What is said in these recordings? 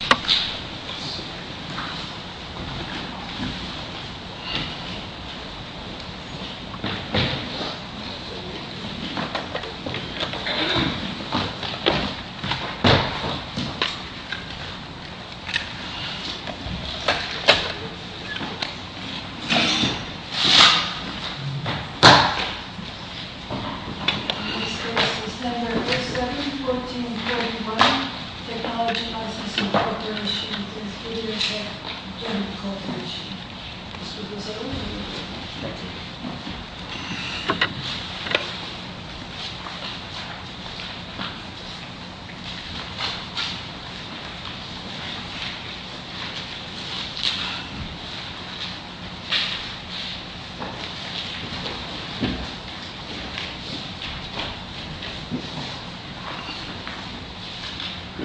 Page 1 Drag one square which is companied of A and C computed by division of its surface by alpha times plus mu of f u squared spacing minus b. No I don't. Capabilities. Thank you. Good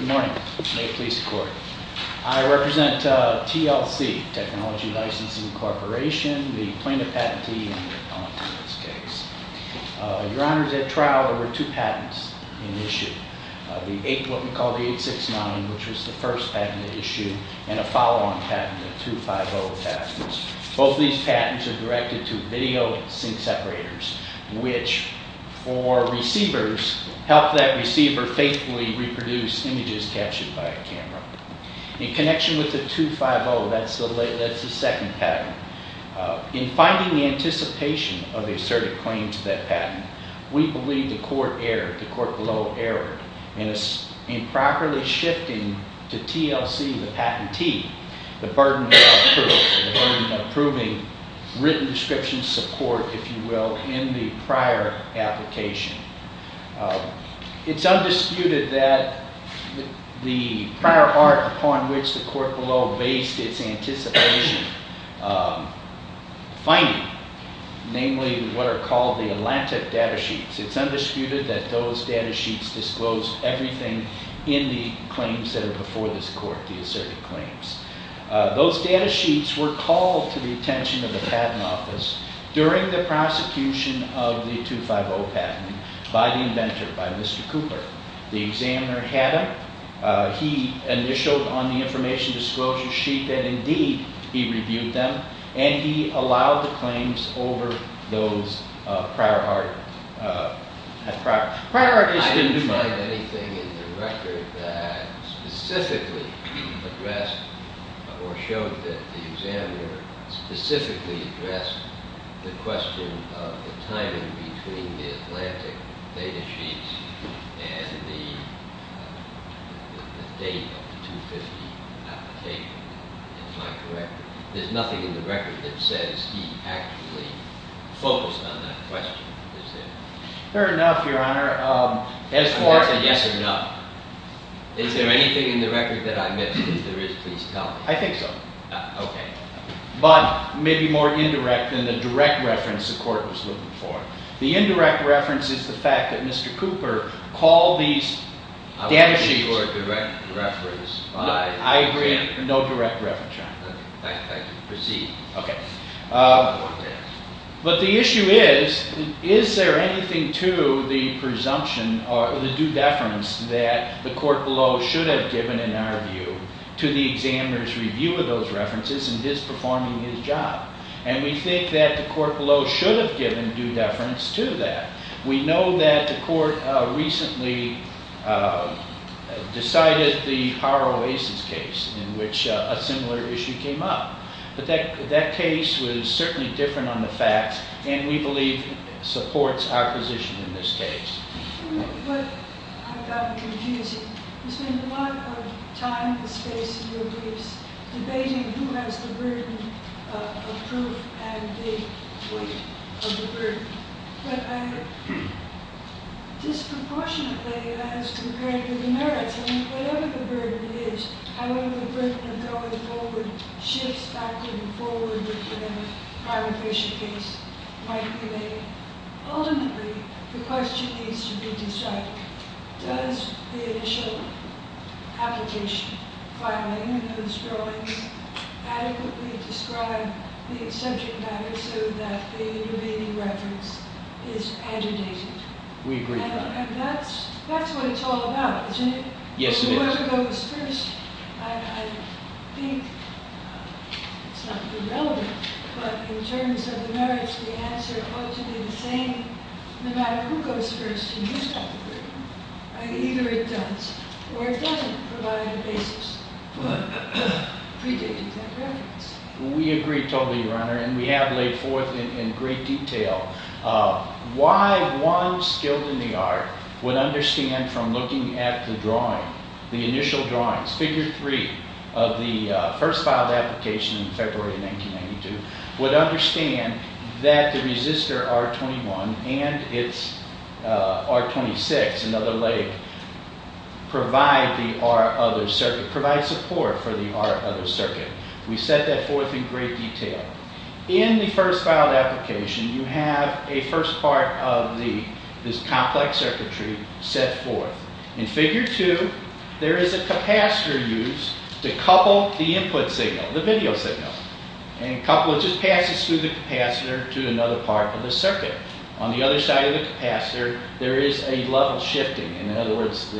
morning. I represent TLC, Technology Licensing Corporation, the plaintiff patentee in this case. Your honors, at trial, there were two patents in issue. The eight, what we call the 869, which was the first patent issue, and a follow-on patent, the 250 patents. Both these patents are directed to video sync separators, which for receivers, help that receiver faithfully reproduce images captured by a camera. In connection with the 250, that's the second patent. In finding the anticipation of the asserted claim to that patent, we believe the court erred, the court below erred in properly shifting to TLC, the patentee, the burden of approving written description support, if you will, in the prior application. It's undisputed that the prior part upon which the court below based its anticipation finding, namely what are called the Atlantic data sheets, it's undisputed that those data sheets disclosed everything in the claims that are before this court, the asserted claims. Those data sheets were called to the attention of the patent office during the prosecution of the 250 patent by the inventor, by Mr. Cooper. The examiner had them. He initialed on the information disclosure sheet, and indeed, he reviewed them. And he allowed the claims over those prior art, prior art is going to do much. I didn't find anything in the record that specifically addressed or showed that the examiner specifically addressed the question of the timing between the Atlantic data sheets and the date of the 250 application, if I'm correct. There's nothing in the record that says he actually focused on that question, is there? Fair enough, Your Honor. As far as a yes or no, is there anything in the record that I missed? If there is, please tell me. I think so. OK. But maybe more indirect than the direct reference the court was looking for. The indirect reference is the fact that Mr. Cooper called these data sheets. I want to give you a direct reference. I agree, no direct reference, Your Honor. I can proceed. OK. But the issue is, is there anything to the presumption or the due deference that the court below should have given, in our view, to the examiner's review of those references and his performing his job? And we think that the court below should have given due deference to that. We know that the court recently decided the Haro-Aces case, in which a similar issue came up. But that case was certainly different on the facts, and we believe supports our position in this case. But I've gotten confused. You spend a lot of time and space in your briefs debating who has the burden of proof and the weight of the burden. But disproportionately, as compared to the merits, whatever the burden is, however the burden of going forward shifts back and forward with the Haro-Aces case might be made. Ultimately, the question needs to be decided. Does the initial application, filing, and those drawings adequately describe the exception matter so that the intervening reference is agitated? We agree on that. And that's what it's all about, isn't it? Yes, it is. The one who goes first, I think, it's not really relevant. But in terms of the merits, the answer ought to be the same no matter who goes first and who's got the burden. Either it does or it doesn't provide a basis for predating that reference. We agree totally, Your Honor, and we have laid forth in great detail why one skilled in the art would understand from looking at the drawing, the initial drawings, figure three of the first filed application in February 1992, would understand that the resistor R21 and its R26, another leg, provide the R other circuit, provide support for the R other circuit. We set that forth in great detail. In the first filed application, you have a first part of this complex circuitry set forth. In figure two, there is a capacitor used to couple the input signal, the video signal, and couple it just passes through the capacitor to another part of the circuit. On the other side of the capacitor, there is a level shifting. In other words,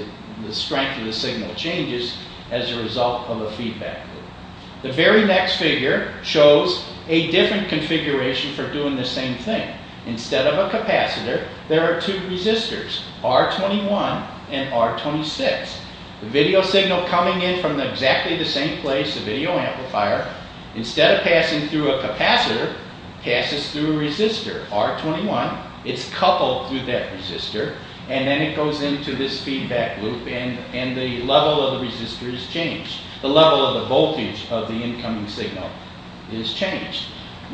the strength of the signal changes as a result of a feedback loop. The very next figure shows a different configuration for doing the same thing. Instead of a capacitor, there are two resistors, R21 and R26. The video signal coming in from exactly the same place, a video amplifier, instead of passing through a capacitor, passes through a resistor, R21. It's coupled through that resistor. And then it goes into this feedback loop. And the level of the resistor is changed. The level of the voltage of the incoming signal is changed.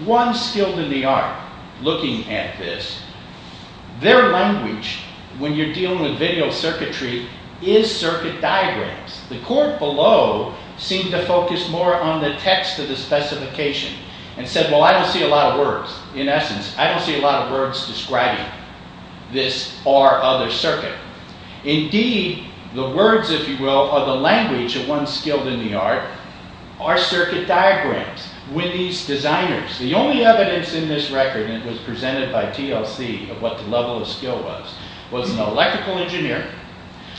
One skill to the art looking at this, their language when you're dealing with video circuitry is circuit diagrams. The court below seemed to focus more on the text of the specification and said, well, I don't see a lot of words. In essence, I don't see a lot of words describing this or other circuit. Indeed, the words, if you will, are the language of one skilled in the art, are circuit diagrams with these designers. The only evidence in this record, and it was presented by TLC of what the level of skill was, was an electrical engineer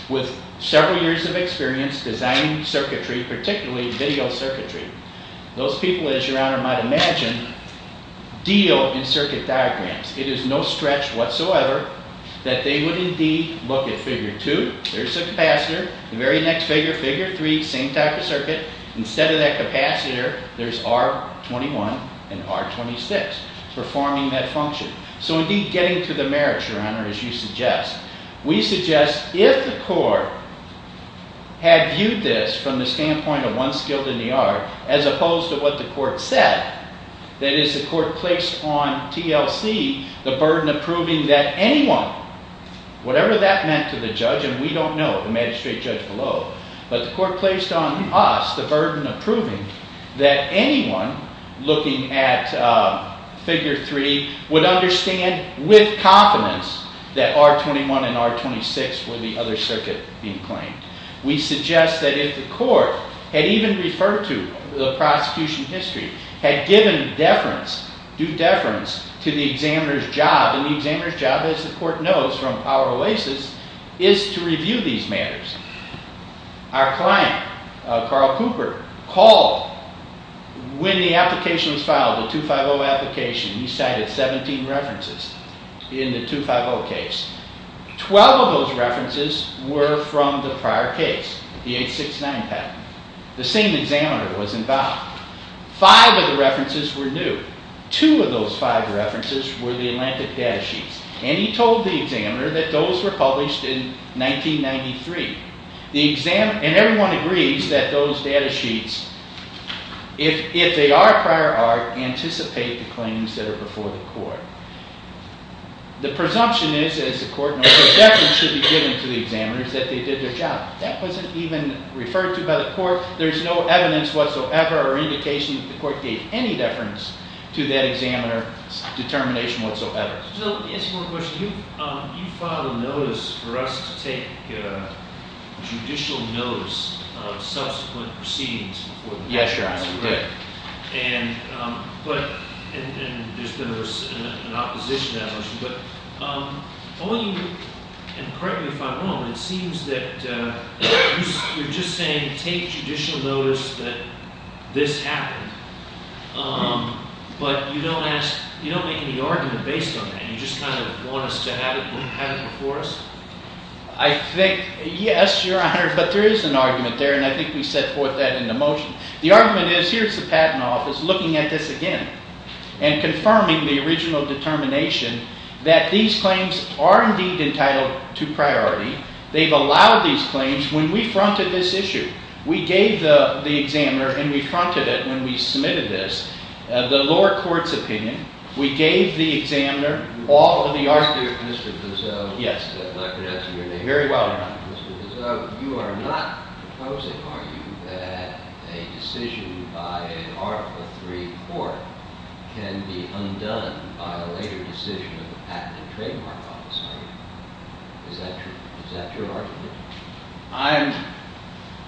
with several years of experience designing circuitry, particularly video circuitry. Those people, as your honor might imagine, deal in circuit diagrams. It is no stretch whatsoever that they would indeed look at figure two. There's a capacitor. The very next figure, figure three, same type of circuit. Instead of that capacitor, there's R21 and R26 performing that function. So indeed, getting to the merits, your honor, as you suggest. We suggest if the court had viewed this from the standpoint of one skilled in the art, as opposed to what the court said, that is the court placed on TLC the burden of proving that anyone, whatever that meant to the judge, and we don't know, the magistrate judge below, but the court placed on us the burden of proving that anyone looking at figure three would understand with confidence that R21 and R26 were the other circuit being claimed. We suggest that if the court had even referred to the prosecution history, had given deference, due deference, to the examiner's job, and the examiner's job, as the court knows from Power Oasis, is to review these matters. Our client, Carl Cooper, called when the application was filed, the 250 application. He cited 17 references in the 250 case. 12 of those references were from the prior case, the 869 patent. The same examiner was involved. Five of the references were new. Two of those five references were the Atlantic data sheets, and he told the examiner that those were published in 1993, and everyone agrees that those data sheets, if they are prior art, anticipate the claims that are before the court. The presumption is, as the court knows, that deference should be given to the examiners that they did their job. That wasn't even referred to by the court. There's no evidence whatsoever or indication that the court gave any deference to that examiner's determination whatsoever. So, let me ask you one more question. You filed a notice for us to take judicial notice of subsequent proceedings before the trial. Yes, Your Honor, we did. And, but, and there's been an opposition to that motion, but, I want you to, and correct me if I'm wrong, but it seems that you're just saying take judicial notice that this happened, but you don't ask, you don't make any argument based on that. You just kind of want us to have it before us? I think, yes, Your Honor, but there is an argument there, and I think we set forth that in the motion. The argument is, here's the Patent Office looking at this again, and confirming the original determination that these claims are indeed entitled to priority. They've allowed these claims. When we fronted this issue, we gave the examiner, and we fronted it when we submitted this, the lower court's opinion. We gave the examiner all of the arguments. Mr. Guzzo, if I could ask you your name. Very well, Your Honor. Mr. Guzzo, you are not proposing, are you, that a decision by an Article III court can be undone by a later decision of the Patent and Trademark Office, are you? Is that true, is that your argument? I'm,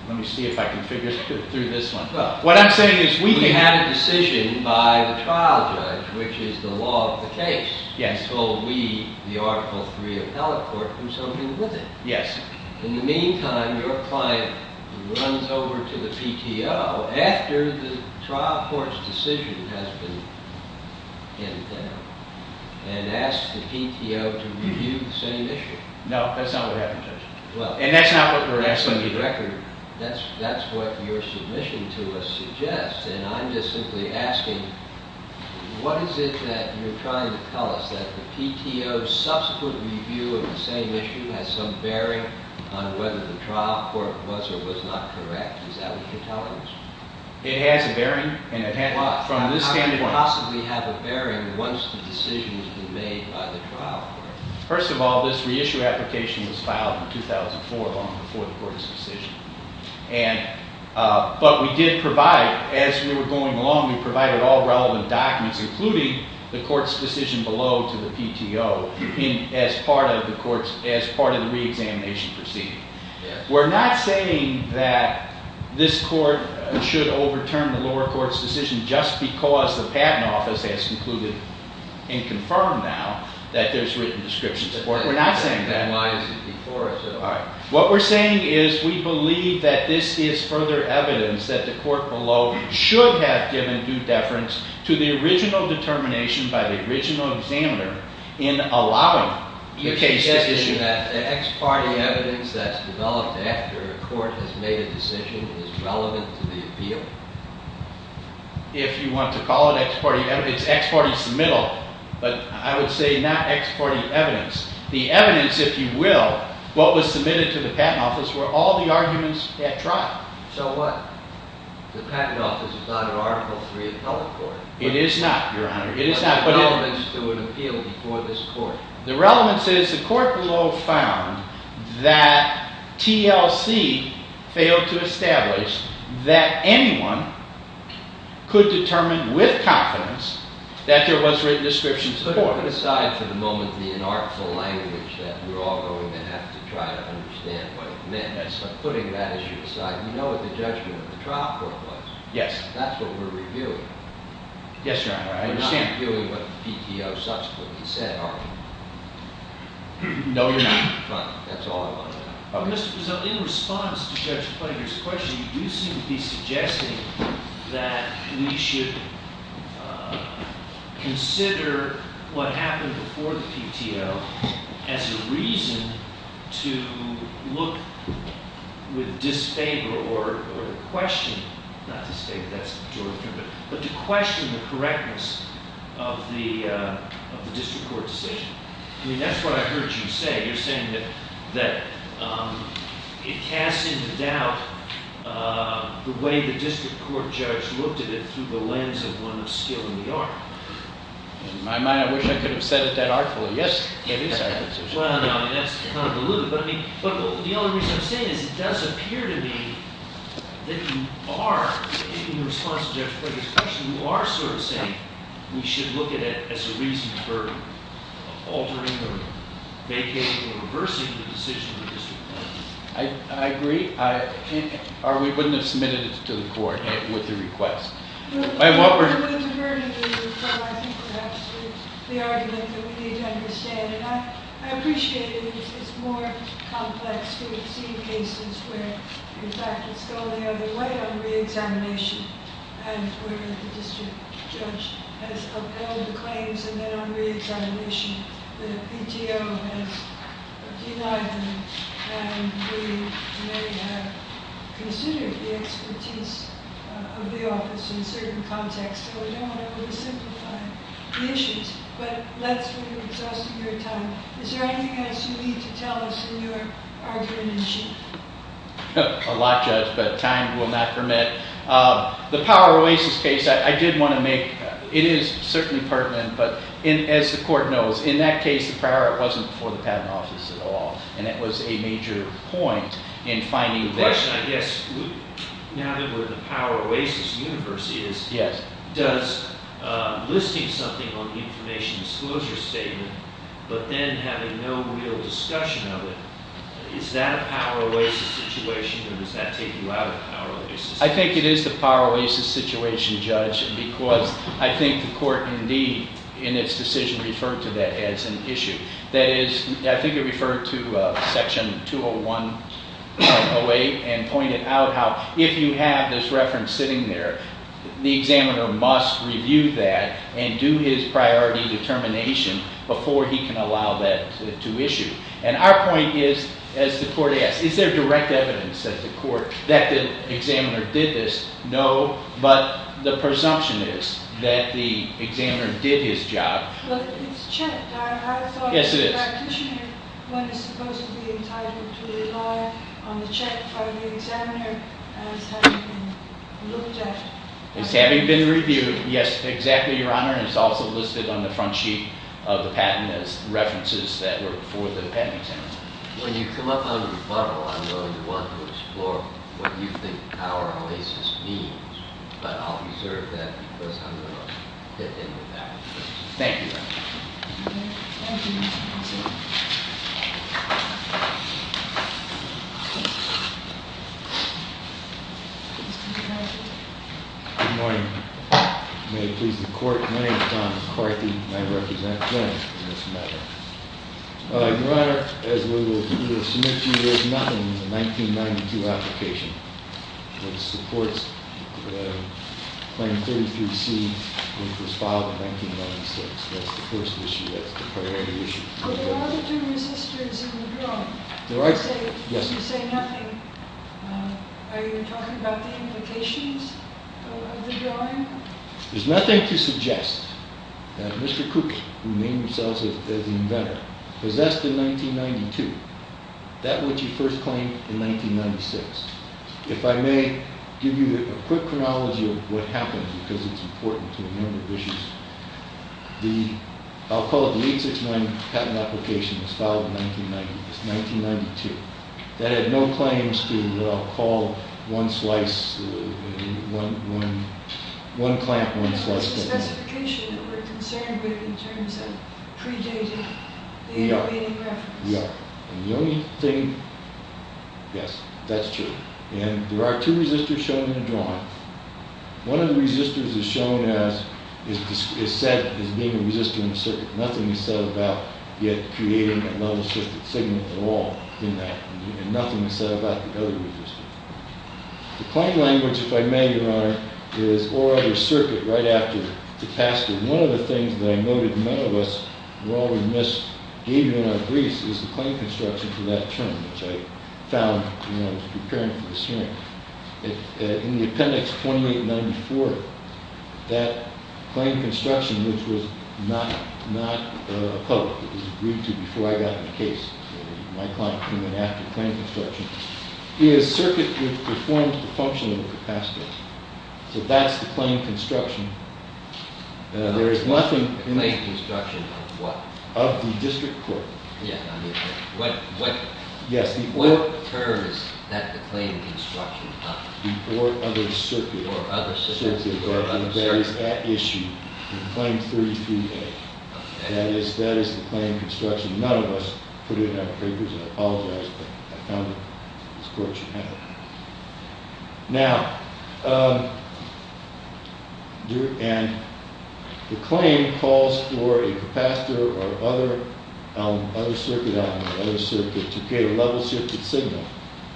let me see if I can figure through this one. What I'm saying is we have a decision by the trial judge, which is the law of the case, and so we, the Article III appellate court, do something with it. Yes. In the meantime, your client runs over to the PTO after the trial court's decision has been handed and asks the PTO to review the same issue. No, that's not what happened, Judge. And that's not what we're asking you to do. That's what your submission to us suggests, and I'm just simply asking, what is it that you're trying to tell us, that the PTO's subsequent review of the same issue has some bearing on whether the trial court was or was not correct? Is that what you're telling us? It has a bearing, and it has, from this standpoint. How can it possibly have a bearing once the decision has been made by the trial court? First of all, this reissue application was filed in 2004, long before the court's decision. But we did provide, as we were going along, we provided all relevant documents, including the court's decision below to the PTO, as part of the reexamination proceeding. We're not saying that this court should overturn the lower court's decision just because the Patent Office has concluded and confirmed now that there's written description support. We're not saying that. Then why is it before us? What we're saying is we believe that this is further evidence that the court below should have given due deference to the original determination by the original examiner in allowing the case to issue. Is that ex parte evidence that's developed after a court has made a decision that is relevant to the appeal? If you want to call it ex parte evidence, ex parte's the middle, but I would say not ex parte evidence. The evidence, if you will, what was submitted to the Patent Office were all the arguments at trial. So what? The Patent Office is not an Article III appellate court. It is not, Your Honor. It is not, but it. What's the relevance to an appeal before this court? The relevance is the court below found that TLC failed to establish that anyone could determine with confidence that there was written description support. Put aside for the moment the inartful language that we're all going to have to try to understand what it meant. So putting that issue aside, you know what the judgment of the trial court was. Yes. That's what we're reviewing. Yes, Your Honor, I understand. I'm not hearing what the PTO subsequently said, are we? No, You're not. Fine, that's all I want to know. Mr. Prezant, in response to Judge Plattinger's question, you do seem to be suggesting that we should consider what happened before the PTO as a reason to look with disfavor or to question, not to say that that's a majority, but to question the correctness of the district court decision. I mean, that's what I heard you say. You're saying that it casts into doubt the way the district court judge looked at it through the lens of one that's still in the art. In my mind, I wish I could have said it that artfully. Yes, it is artful. Well, no, that's kind of deluded, but the only reason I'm saying is it does appear to me that you are, in response to Judge Plattinger's question, you are sort of saying we should look at it as a reason for altering or vacating or reversing the decision of the district court. I agree. We wouldn't have submitted it to the court with the request. With the burden of the request, I think perhaps the argument that we need to understand, and I appreciate it, it's more complex to see cases where your faculties go the other way on re-examination and where the district judge has upheld the claims and then on re-examination, the PTO has denied them, and we may have considered the expertise of the office in certain contexts, so we don't want to oversimplify the issues, but let's, we're exhausting your time. Is there anything else you need to tell us in your argument, Chief? A lot, Judge, but time will not permit. The Power Oasis case, I did want to make, it is certainly pertinent, but as the court knows, in that case, prior, it wasn't before the patent office at all, and it was a major point in finding this. The question, I guess, now that we're in the Power Oasis universe is, does listing something on the information disclosure statement, but then having no real discussion of it, is that a Power Oasis situation, or does that take you out of Power Oasis? I think it is the Power Oasis situation, Judge, because I think the court, indeed, in its decision referred to that as an issue. That is, I think it referred to section 201.08 and pointed out how, if you have this reference sitting there, the examiner must review that and do his priority determination before he can allow that to issue. And our point is, as the court asks, is there direct evidence that the court, that the examiner did this? No, but the presumption is that the examiner did his job. But it's checked. I have a thought that the practitioner when he's supposed to be entitled to rely on the check from the examiner as having been looked at. As having been reviewed. Yes, exactly, Your Honor, and it's also listed on the front sheet of the patent as references that were for the patent examiner. When you come up on the rebuttal, I know you want to explore what you think Power Oasis means, but I'll reserve that because I'm going to dip in with that. Thank you, Your Honor. Thank you. Thank you, Mr. President. Mr. President. Good morning. May it please the court, my name's John McCarthy, and I represent Glenn in this matter. Your Honor, as we will submit to you, there's nothing in the 1992 application that supports the Claim 33C, which was filed in 1996. That's the first issue, that's the priority issue. But there are the two resistors in the drawing. There are, yes. You say nothing. Are you talking about the implications of the drawing? There's nothing to suggest that Mr. Cooke, who named himself as the inventor, possessed in 1992 that which he first claimed in 1996. If I may give you a quick chronology of what happened, because it's important to a number of issues. I'll call it the 869 patent application was filed in 1990, it's 1992. That had no claims to the, I'll call one slice, one clamp, one slice. That was the specification that we're concerned with in terms of predating the intervening reference. Yeah, and the only thing, yes, that's true. And there are two resistors shown in the drawing. One of the resistors is shown as, is being a resistor in the circuit. Nothing is said about it creating a non-assisted signal at all in that. Nothing is said about the other resistors. The claim language, if I may, Your Honor, is or other circuit right after the task. One of the things that I noted none of us were all remiss, gave you in our briefs, is the claim construction for that term, which I found when I was preparing for this hearing. In the appendix 2894, that claim construction, which was not public, it was agreed to before I got the case. My client came in after the claim construction, is circuit which performs the function of the capacitor. So that's the claim construction. There is nothing in the- The claim construction of what? Of the district court. Yeah, I mean, what term is that the claim construction of? Or other circuit. Or other circuit. Circuit, that is at issue in claim 33A. That is the claim construction. None of us put it in our papers, and I apologize, but I found it. This court should have it. Now, and the claim calls for a capacitor or other circuit element, other circuit, to create a level shifted signal.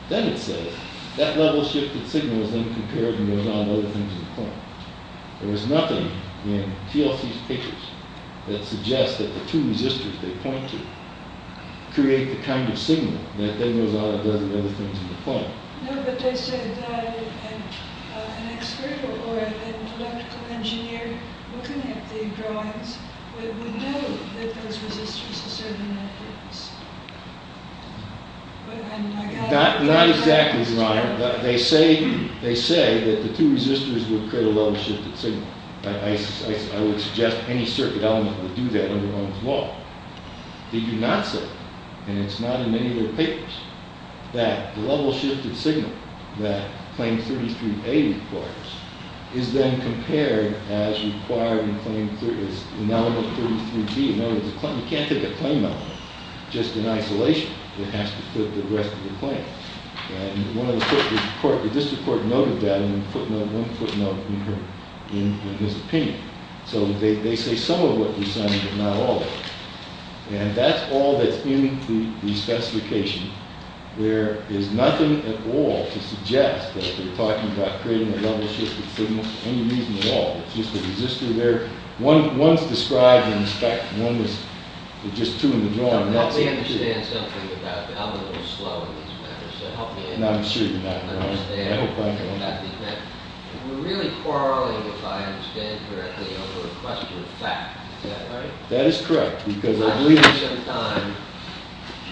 Then it says, that level shifted signal is then compared and goes on to other things in the claim. There was nothing in TLC's papers that suggests that the two resistors they point to create the kind of signal that then goes on and does the other things in the claim. No, but they said that an expert or an electrical engineer looking at the drawings would know that those resistors are serving that purpose. Not exactly, Your Honor. They say that the two resistors would create a level shifted signal. I would suggest any circuit element would do that under Ong's law. They do not say, and it's not in any of their papers, that the level shifted signal that claim 33A requires is then compared as required in claim, as in element 33B, in other words, you can't take a claim element just in isolation. It has to fit the rest of the claim. One of the court, the district court noted that in a footnote, one footnote in his opinion. So they say some of what you're saying, but not all of it. And that's all that's in the specification. There is nothing at all to suggest that they're talking about creating a level shifted signal for any reason at all. It's just the resistor there. One's described in the fact, one was just two in the drawing. That's it. I don't understand something about the element of slow in these papers. So help me understand. No, I'm sure you're not. I understand. I understand. We're really quarreling, if I understand correctly, over a question of fact. Is that right? That is correct. Because I believe- I think sometimes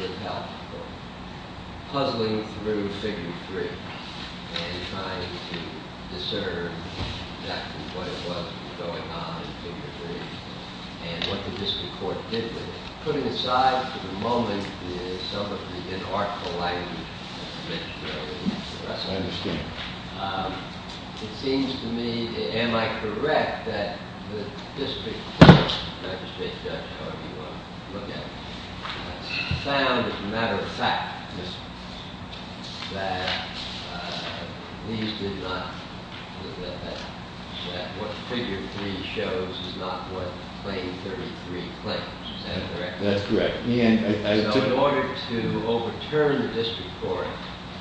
it helps for puzzling through figure three and trying to discern exactly what it was going on in figure three and what the district court did with it. Putting aside for the moment some of the inarticulated things that we discussed. I understand. It seems to me, am I correct, that the district court, I appreciate the judge, however you want to look at it, found as a matter of fact that these did not, that what figure three shows is not what claim 33 claims. Is that correct? That's correct. So in order to overturn the district court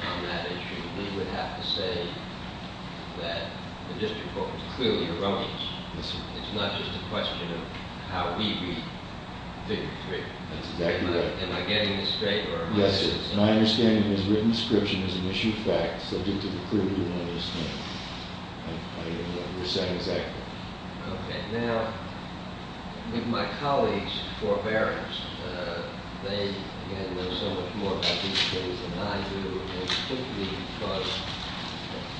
on that issue, we would have to say that the district court was clearly erroneous. It's not just a question of how we read figure three. That's exactly right. Am I getting this straight? Yes, sir. My understanding is written description is an issue of fact subject to the clear view on this matter. I don't even know what you're saying exactly. Okay, now, with my colleagues' forbearance, they, again, know so much more about these cases than I do and it's simply because,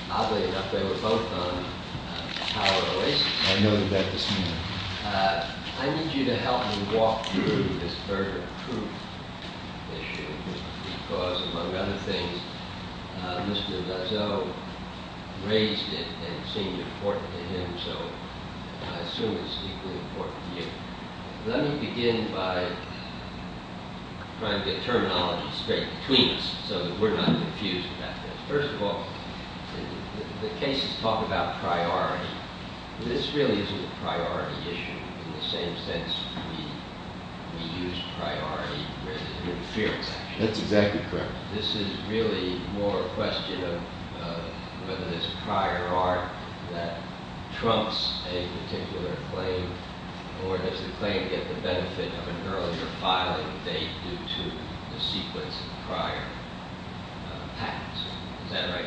oddly enough, they were both on power of oasis. I noted that this morning. I need you to help me walk through this burger proof issue because, among other things, Mr. Dazzo raised it and seemed important to him, so I assume it's equally important to you. Let me begin by trying to get terminology straight between us so that we're not confused about this. First of all, the cases talk about priority. This really isn't a priority issue in the same sense we use priority with interference, actually. That's exactly correct. This is really more a question of whether there's a prior art that trumps a particular claim or does the claim get the benefit of an earlier filing date due to the sequence of prior patents, is that right?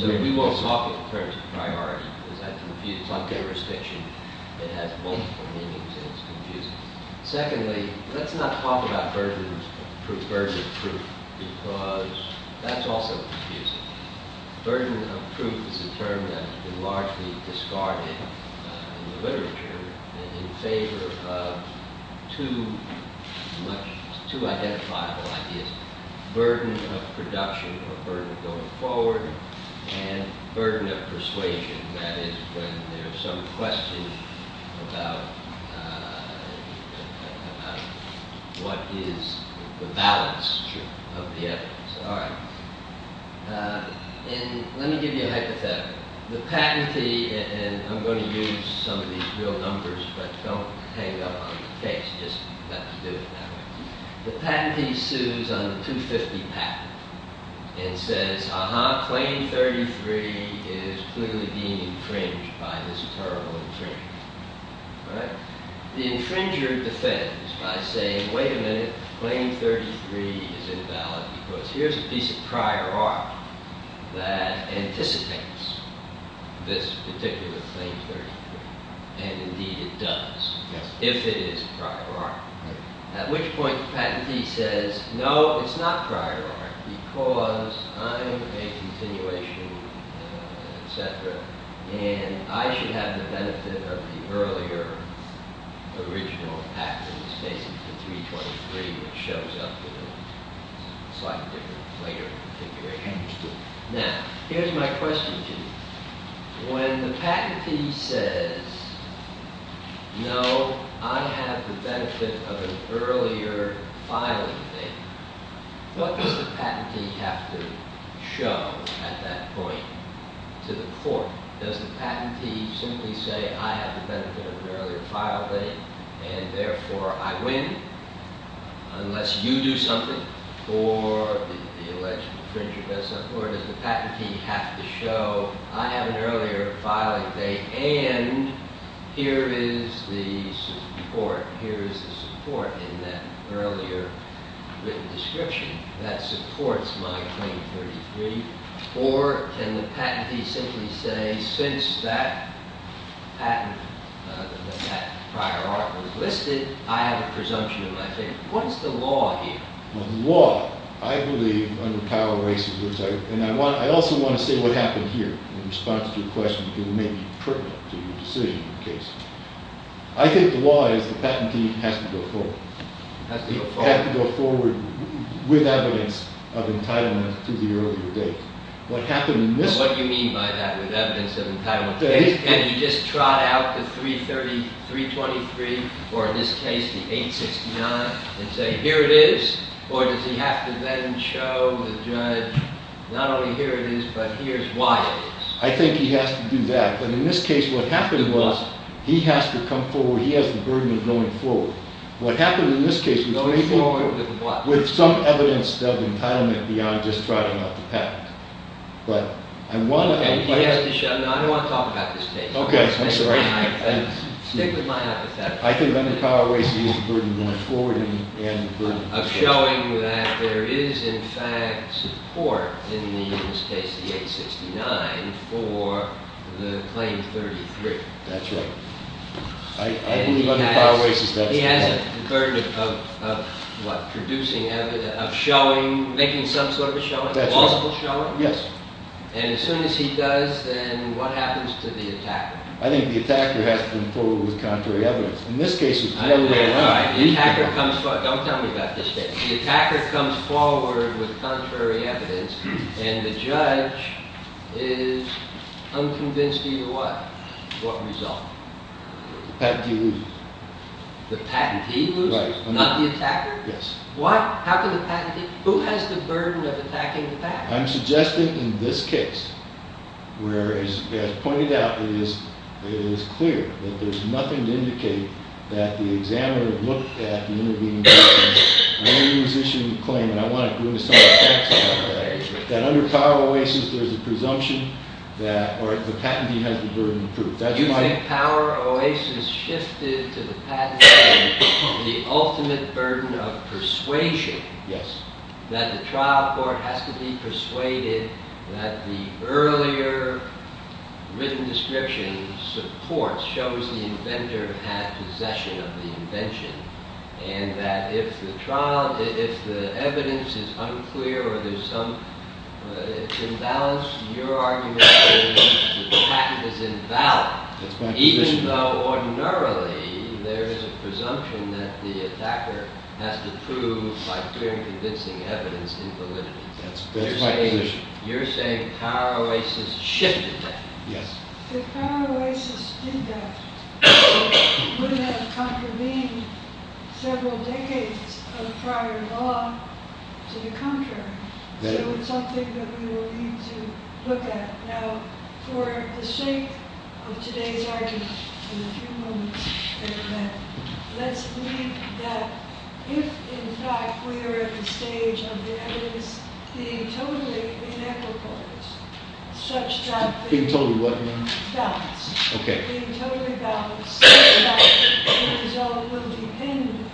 So, we won't talk in terms of priority because that confuses, it's not jurisdiction. It has multiple meanings and it's confusing. Secondly, let's not talk about burden of proof because that's also confusing. Burden of proof is a term that has been largely discarded in the literature in favor of two identifiable ideas, burden of production or burden of going forward and burden of persuasion, that is, when there's some question about what is the balance of the evidence. All right, and let me give you a hypothetical. The patentee, and I'm gonna use some of these real numbers but don't hang up on the case, just let me do it that way. The patentee sues on the 250 patent and says, aha, claim 33 is clearly being infringed by this terrible infringer, all right? The infringer defends by saying, wait a minute, claim 33 is invalid because here's a piece of prior art that anticipates this particular claim 33 and indeed it does, if it is prior art. At which point, the patentee says, no, it's not prior art because I'm a continuation, et cetera and I should have the benefit of the earlier original act which is basically 323 which shows up in a slightly different later configuration. Now, here's my question to you. When the patentee says, no, I have the benefit of an earlier filing date, what does the patentee have to show at that point to the court? Does the patentee simply say, I have the benefit of an earlier filing date and therefore I win unless you do something or the infringer does something or does the patentee have to show, I have an earlier filing date and here is the support, here is the support in that earlier written description that supports my claim 33 or can the patentee simply say, since that patent, that prior art was listed, I have a presumption of my favor. What is the law here? The law, I believe, under Powell races and I also want to say what happened here in response to your question because it may be pertinent to your decision in the case. I think the law is the patentee has to go forward. Has to go forward. Has to go forward with evidence of entitlement to the earlier date. What happened in this case. And what do you mean by that, with evidence of entitlement? Can he just trot out the 323 or in this case the 869 and say here it is or does he have to then show the judge, not only here it is but here's why it is. I think he has to do that. But in this case what happened was, he has to come forward. He has the burden of going forward. What happened in this case was he went forward with some evidence of entitlement beyond just trotting out the patent. But I want to. He has to show, I don't want to talk about this case. Okay, I'm sorry. Stick with my hypothetical. I think under Powell races he has a burden going forward and the burden. Of showing that there is in fact support in this case the 869 for the claim 33. That's right. I believe under Powell races that's the case. He has a burden of what? Producing evidence, of showing, making some sort of a showing, possible showing. And as soon as he does then what happens to the attacker? I think the attacker has to come forward with contrary evidence. In this case it's the other way around. The attacker comes forward. Don't tell me about this case. The attacker comes forward with contrary evidence and the judge is unconvinced of what? What result? The patent he loses. The patent he loses? Not the attacker? What? How can the patent? Who has the burden of attacking the patent? I'm suggesting in this case, where as pointed out it is clear that there's nothing to indicate that the examiner looked at the intervening evidence when he was issuing the claim. And I want to go into some of the facts about that. That under Powell races there's a presumption that or the patent he has the burden of proof. That's why. You think Powell races shifted to the patent saying the ultimate burden of persuasion? Yes. That the trial court has to be persuaded that the earlier written description supports shows the inventor had possession of the invention. And that if the trial, if the evidence is unclear or there's some imbalance, your argument is the patent is invalid. Even though ordinarily there is a presumption that the attacker has to prove by clearly convincing evidence in validity. That's my position. You're saying Powell races shifted that? Yes. If Powell races did that, wouldn't that have contravened several decades of prior law to the contrary? So it's something that we will need to look at. Now for the sake of today's argument and a few moments in the event, let's believe that if in fact we are at the stage of the evidence being totally inequitables such that being totally what? Balanced. Okay. Being totally balanced. The result will depend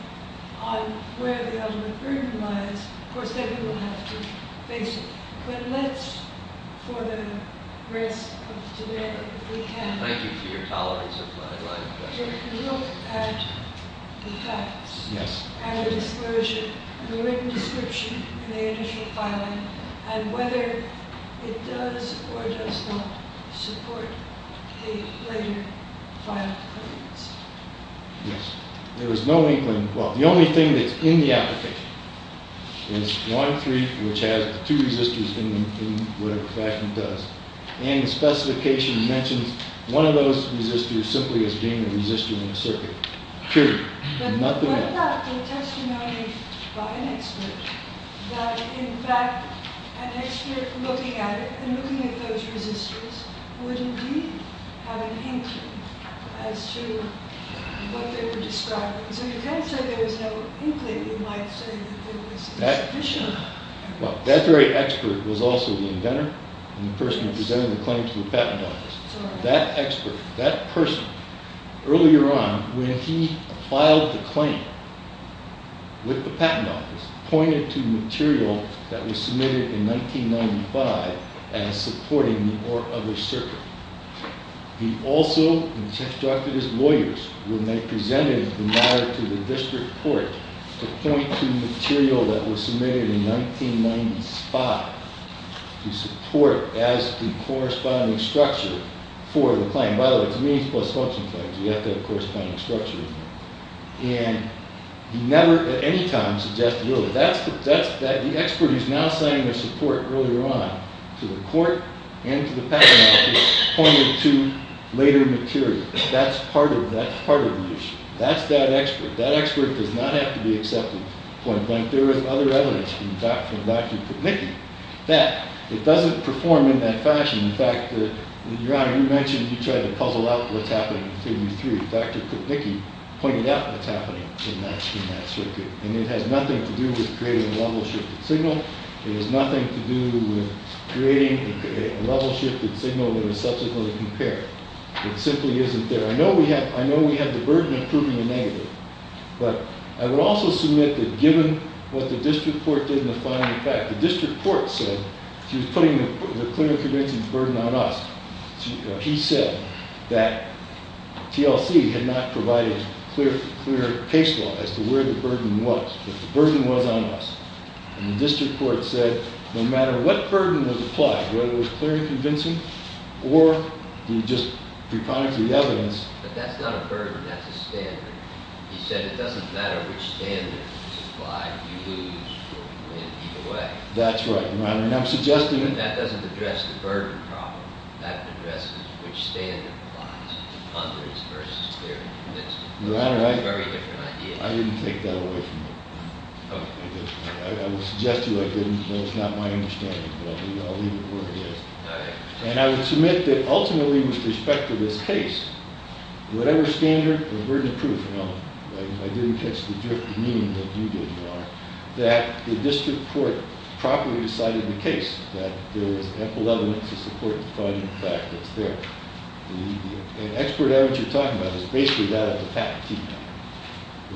on where the ultimate burden lies. Of course, everyone has to face it. But let's, for the rest of today, we can. Thank you for your tolerance of my line of questioning. If you look at the facts. Yes. And the disclosure and the written description in the initial filing and whether it does or does not support a later filing of evidence. Yes. There is no inkling. Well, the only thing that's in the application is one, three, which has two resistors in whatever fashion it does. And the specification mentions one of those resistors simply as being a resistor in a circuit. True. But what about the testimony by an expert that in fact an expert looking at it and looking at those resistors would indeed have an inkling as to what they were describing? So you can't say there was no inkling. You might say that there was sufficient. Well, that very expert was also the inventor and the person who presented the claim to the patent office. That expert, that person, earlier on when he filed the claim with the patent office pointed to material that was submitted in 1995 as supporting the Orr-Other circuit. He also instructed his lawyers when they presented the matter to the district court to point to material that was submitted in 1995 to support as the corresponding structure for the claim. By the way, it's means plus function claims. You have to have a corresponding structure. And he never at any time suggested really. That's the expert who's now signing their support earlier on to the court and to the patent office pointed to later material. That's part of the issue. That's that expert. That expert does not have to be accepted to point blank. There is other evidence from Dr. McNickey that it doesn't perform in that fashion. In fact, Your Honor, you mentioned you tried to puzzle out what's happening in figure three. Dr. McNickey pointed out what's happening in that circuit. And it has nothing to do with creating a level shifted signal. It has nothing to do with creating a level shifted signal that is subsequently compared. It simply isn't there. I know we have the burden of proving a negative. But I would also submit that given what the district court did in the final effect, the district court said, she was putting the clear and convincing burden on us. He said that TLC had not provided clear case law as to where the burden was. But the burden was on us. And the district court said, no matter what burden was applied, whether it was clear and convincing or you just pre-product the evidence. But that's not a burden, that's a standard. He said it doesn't matter which standard is applied, you lose or you win either way. That's right, Your Honor. And I'm suggesting that. But that doesn't address the burden problem. That addresses which standard applies, hundreds versus clear and convincing. Your Honor, I didn't take that away from you. I did. I would suggest to you I didn't, but it's not my understanding. But I'll leave it where it is. And I would submit that ultimately with respect to this case, whatever standard or burden proof, I didn't catch the drift of meaning that you did, Your Honor, that the district court properly decided the case that there was ample evidence to support the cognitive fact that's there. And expert evidence you're talking about is basically that of the patentee now.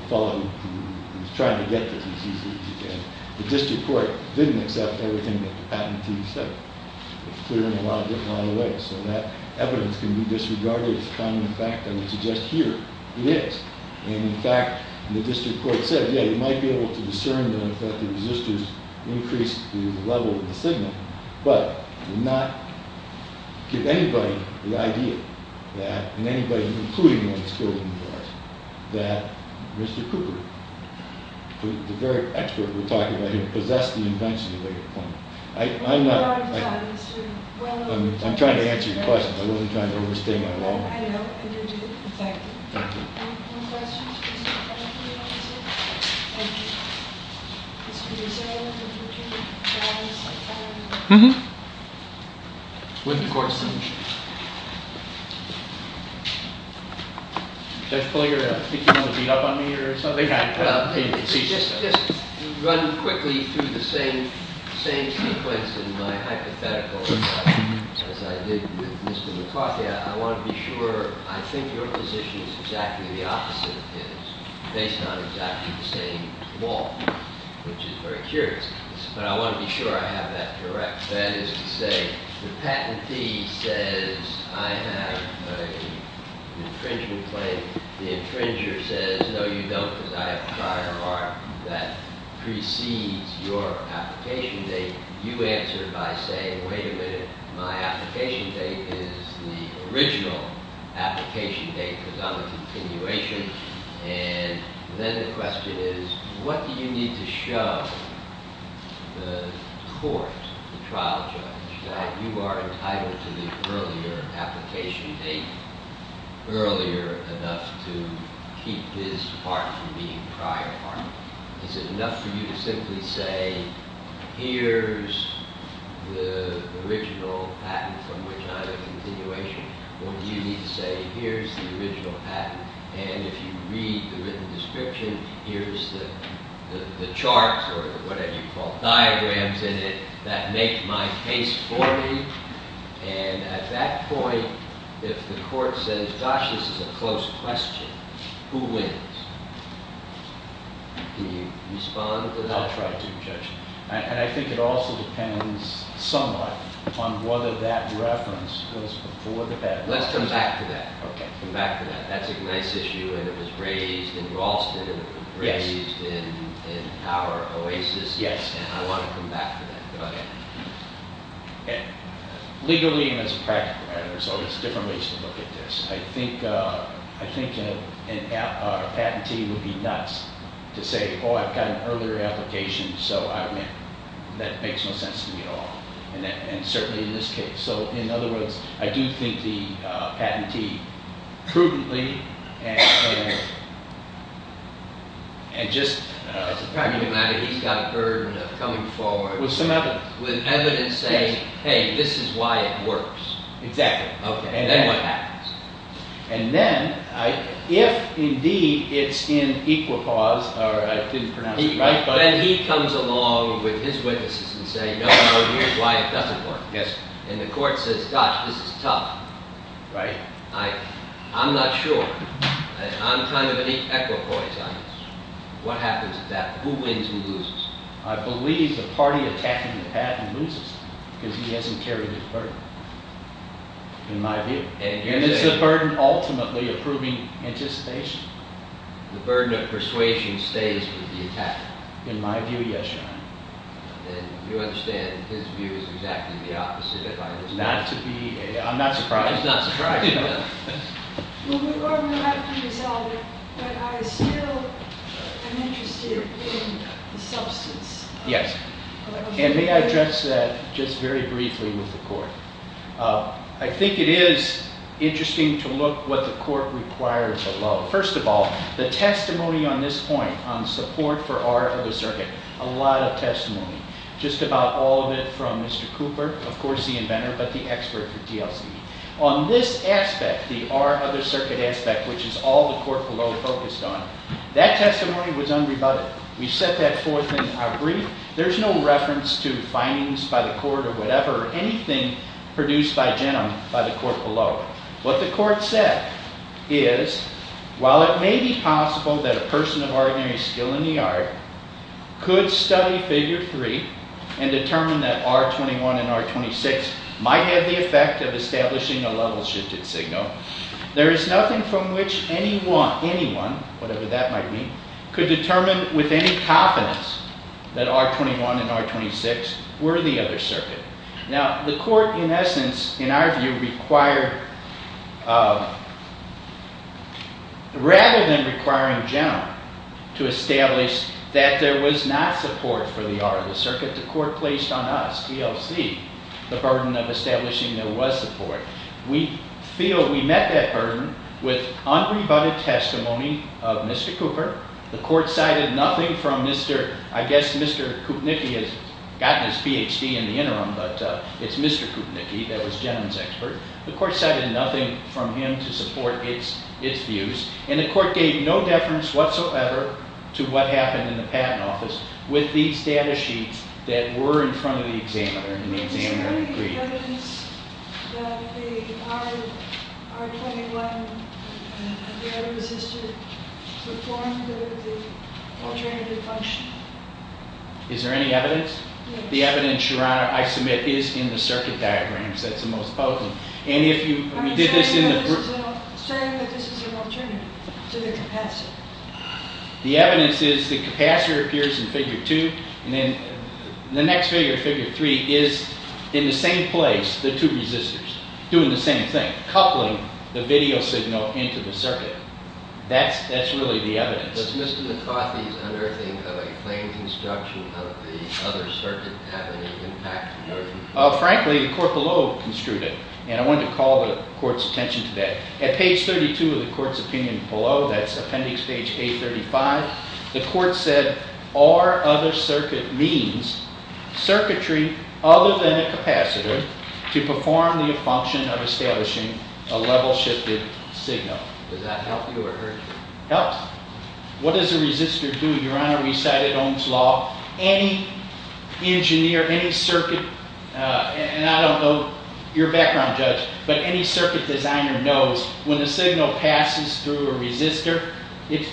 The father who was trying to get this as easy as he can. The district court didn't accept everything that the patentee said. It's clear in a lot of different, a lot of ways. So that evidence can be disregarded as a cognitive fact, I would suggest here. It is. And in fact, the district court said, yeah, you might be able to discern that the resistors increased the level of the signal, but did not give anybody the idea that, and anybody, including the ones killed in the garage, that Mr. Cooper, the very expert we're talking about here, possessed the invention of a plumber. I'm not, I'm trying to answer your question. I'm only trying to overstate my law. I know, and you're doing a perfect job. Thank you. Any more questions? Please come up here and answer. Thank you. Mr. Mazzella, would you repeat the question? Mm-hmm. With the court's permission. Judge Paligara, I think you want to beat up on me or something? Yeah. Just run quickly through the same sequence in my hypothetical, as I did with Mr. McCarthy. I want to be sure, I think your position is exactly the opposite of his, based on exactly the same law, which is very curious. But I want to be sure I have that correct. That is to say, the patentee says, I have an infringement claim. The infringer says, no, you don't, because I have a prior mark that precedes your application date. You answer by saying, wait a minute, my application date is the original application date, because I'm a continuation. And then the question is, what do you need to show the court, the trial judge, that you are entitled to the earlier application date, earlier enough to keep this part from being prior part? Is it enough for you to simply say, here's the original patent from which I'm a continuation? Or do you need to say, here's the original patent, and if you read the written description, here's the charts, or whatever you call diagrams in it, that make my case for me? And at that point, if the court says, gosh, this is a close question, who wins? Can you respond to that? I'll try to, Judge. And I think it also depends somewhat on whether that reference was before the patent. Let's come back to that. Okay. Come back to that. That's a nice issue, and it was raised in Raulston, and it was raised in our Oasis. Yes. And I want to come back to that, go ahead. Legally, and as a practical matter, so there's different ways to look at this. I think a patentee would be nuts to say, oh, I've got an earlier application, so that makes no sense to me at all. And certainly in this case. So in other words, I do think the patentee prudently, and just, as a practical matter, he's got a burden of coming forward. With some evidence. With evidence saying, hey, this is why it works. Exactly. Okay, and then what happens? And then, if indeed it's in equipoise, or I didn't pronounce it right, then he comes along with his witnesses and says, no, no, here's why it doesn't work. Yes. And the court says, gosh, this is tough. Right. I'm not sure. I'm kind of at equipoise on this. What happens at that? Who wins, who loses? I believe the party attacking the patent loses, because he hasn't carried his burden. In my view. And is the burden ultimately approving anticipation? The burden of persuasion stays with the attacker. In my view, yes, Your Honor. And you understand his view is exactly the opposite, if I understand. Not to be, I'm not surprised. I'm not surprised. Well, we're going to have to resolve it, but I still am interested in the substance. Yes, and may I address that just very briefly with the court? I think it is interesting to look what the court requires below. First of all, the testimony on this point on support for our other circuit, a lot of testimony. Just about all of it from Mr. Cooper, of course the inventor, but the expert for DLC. On this aspect, the our other circuit aspect, which is all the court below focused on, that testimony was unrebutted. We set that forth in our brief. There's no reference to findings by the court or whatever, anything produced by Genom by the court below. What the court said is, while it may be possible that a person of ordinary skill in the art could study figure three and determine that R21 and R26 might have the effect of establishing a level shifted signal, there is nothing from which anyone, whatever that might mean, could determine with any confidence that R21 and R26 were the other circuit. Now, the court, in essence, in our view required, rather than requiring Genom to establish that there was not support for the art of the circuit, the court placed on us, DLC, the burden of establishing there was support. We feel we met that burden with unrebutted testimony of Mr. Cooper. The court cited nothing from Mr., I guess Mr. Kupnicki has gotten his PhD in the interim, but it's Mr. Kupnicki that was Genom's expert. The court cited nothing from him to support its views, and the court gave no deference whatsoever to what happened in the patent office with these data sheets that were in front of the examiner and the examiner agreed. Is there any evidence that the R21, the other resistor performed the alternative function? Is there any evidence? The evidence, Your Honor, I submit, is in the circuit diagrams. That's the most potent. And if you did this in the group. Saying that this is an alternative to the capacitor. The evidence is the capacitor appears in figure two, and then the next figure, figure three, is in the same place, the two resistors, doing the same thing, coupling the video signal into the circuit. That's really the evidence. Does Mr. McCarthy's unearthing of a claim construction of the other circuit have any impact, Your Honor? Frankly, the court below construed it, and I wanted to call the court's attention to that. At page 32 of the court's opinion below, that's appendix page 835, the court said, our other circuit means circuitry other than a capacitor to perform the function of establishing a level-shifted signal. Does that help you or hurt you? Helps. What does a resistor do? Your Honor, we cited Ohm's Law. Any engineer, any circuit, and I don't know your background, Judge, but any circuit designer knows when the signal passes through a resistor, As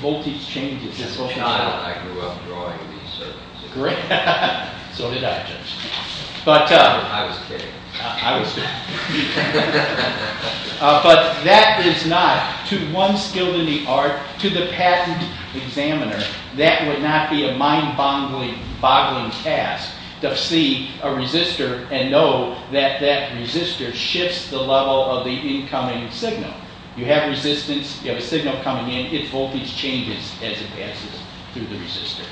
a child, I grew up drawing these circuits. Great. So did I, Judge. But I was kidding. I was kidding. But that is not, to one skilled in the art, to the patent examiner, that would not be a mind-boggling task to see a resistor and know that that resistor shifts the level of the incoming signal. You have resistance, you have a signal coming in, its voltage changes as it passes through the resistor.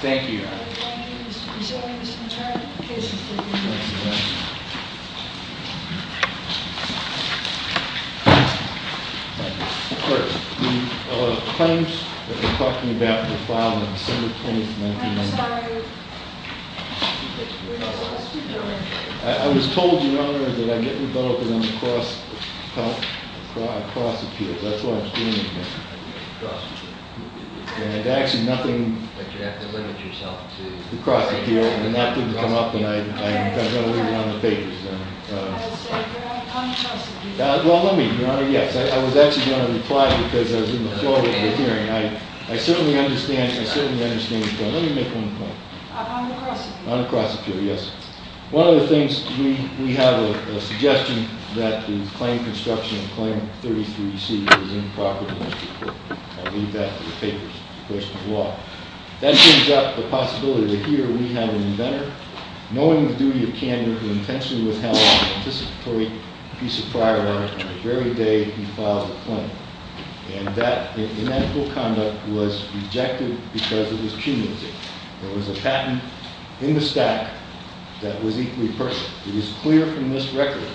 Thank you, Your Honor. Thank you, Mr. Presidio, and Mr. Contrario for the case report. First, the claims that we're talking about in the file on December 20th, 1990. I'm sorry. I was told, Your Honor, that I didn't go up and I'm a prosecutor, that's what I was doing here. Prosecutor. And actually, nothing. But you have to limit yourself to. The cross appeal, and that didn't come up and I'm kind of going to leave it on the papers. I would say, Your Honor, on the cross appeal. Well, let me, Your Honor, yes. I was actually going to reply because I was in the flow of the hearing. I certainly understand, I certainly understand the point. Let me make one point. On the cross appeal. On the cross appeal, yes. One of the things, we have a suggestion that the claim construction, claim 33C is improper to Mr. Portman. I'll leave that to the papers, question of law. That brings up the possibility that here we have an inventor, knowing the duty of candor, who intentionally withheld a participatory piece of prior art on the very day he filed the claim. And that inactual conduct was rejected because it was cumulative. There was a patent in the stack that was equally personal. It is clear from this record,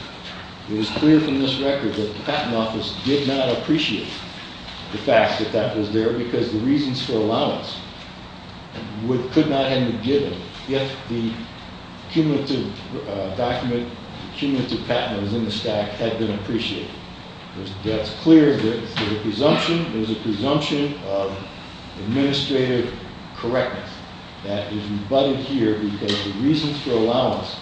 it is clear from this record that the patent office did not appreciate the fact that that was there because the reasons for allowance could not have been given if the cumulative document, cumulative patent that was in the stack had been appreciated. That's clear that there's a presumption, there's a presumption of administrative correctness that is rebutted here because the reasons for allowance.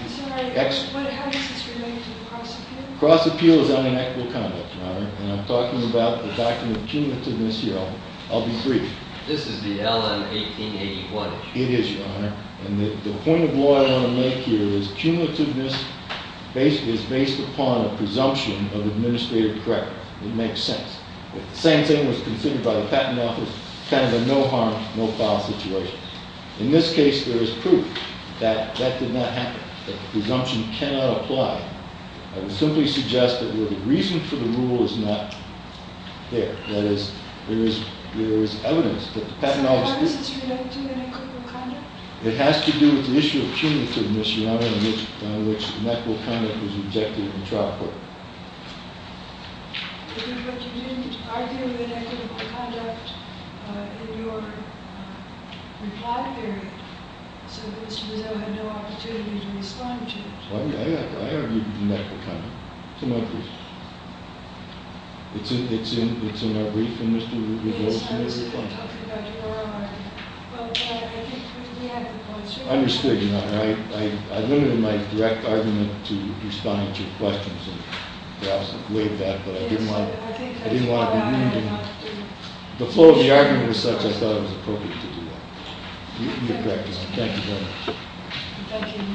I'm sorry, how is this related to the cross appeal? Cross appeal is unequivocal conduct, Your Honor. And I'm talking about the document of cumulativeness here. I'll be brief. This is the LN 1881. It is, Your Honor. And the point of law I want to make here is cumulativeness is based upon a presumption of administrative correctness. It makes sense. If the same thing was considered by the patent office, kind of a no harm, no foul situation. In this case, there is proof that that did not happen. The presumption cannot apply. I would simply suggest that where the reason for the rule is not there. That is, there is evidence that the patent office did. So how is this related to unequivocal conduct? It has to do with the issue of cumulativeness, Your Honor, on which unequivocal conduct was rejected in the trial court. But you didn't argue with unequivocal conduct in your reply period, so Mr. Mizeau had no opportunity to respond to it. I argued with unequivocal conduct. To my pleasure. It's in our brief, and Mr. Rivera- Yes, I was going to talk to Dr. Rivera on it. But I think we have the points here. I understood, Your Honor. I limited my direct argument to responding to questions that were asked way back, but I didn't want- Yes, but I think- I didn't want to be reading. The flow of the argument was such I thought it was appropriate to do that. You're correct, Your Honor. Thank you very much. Thank you, Mr. Mizeau. Thank you. Thank you.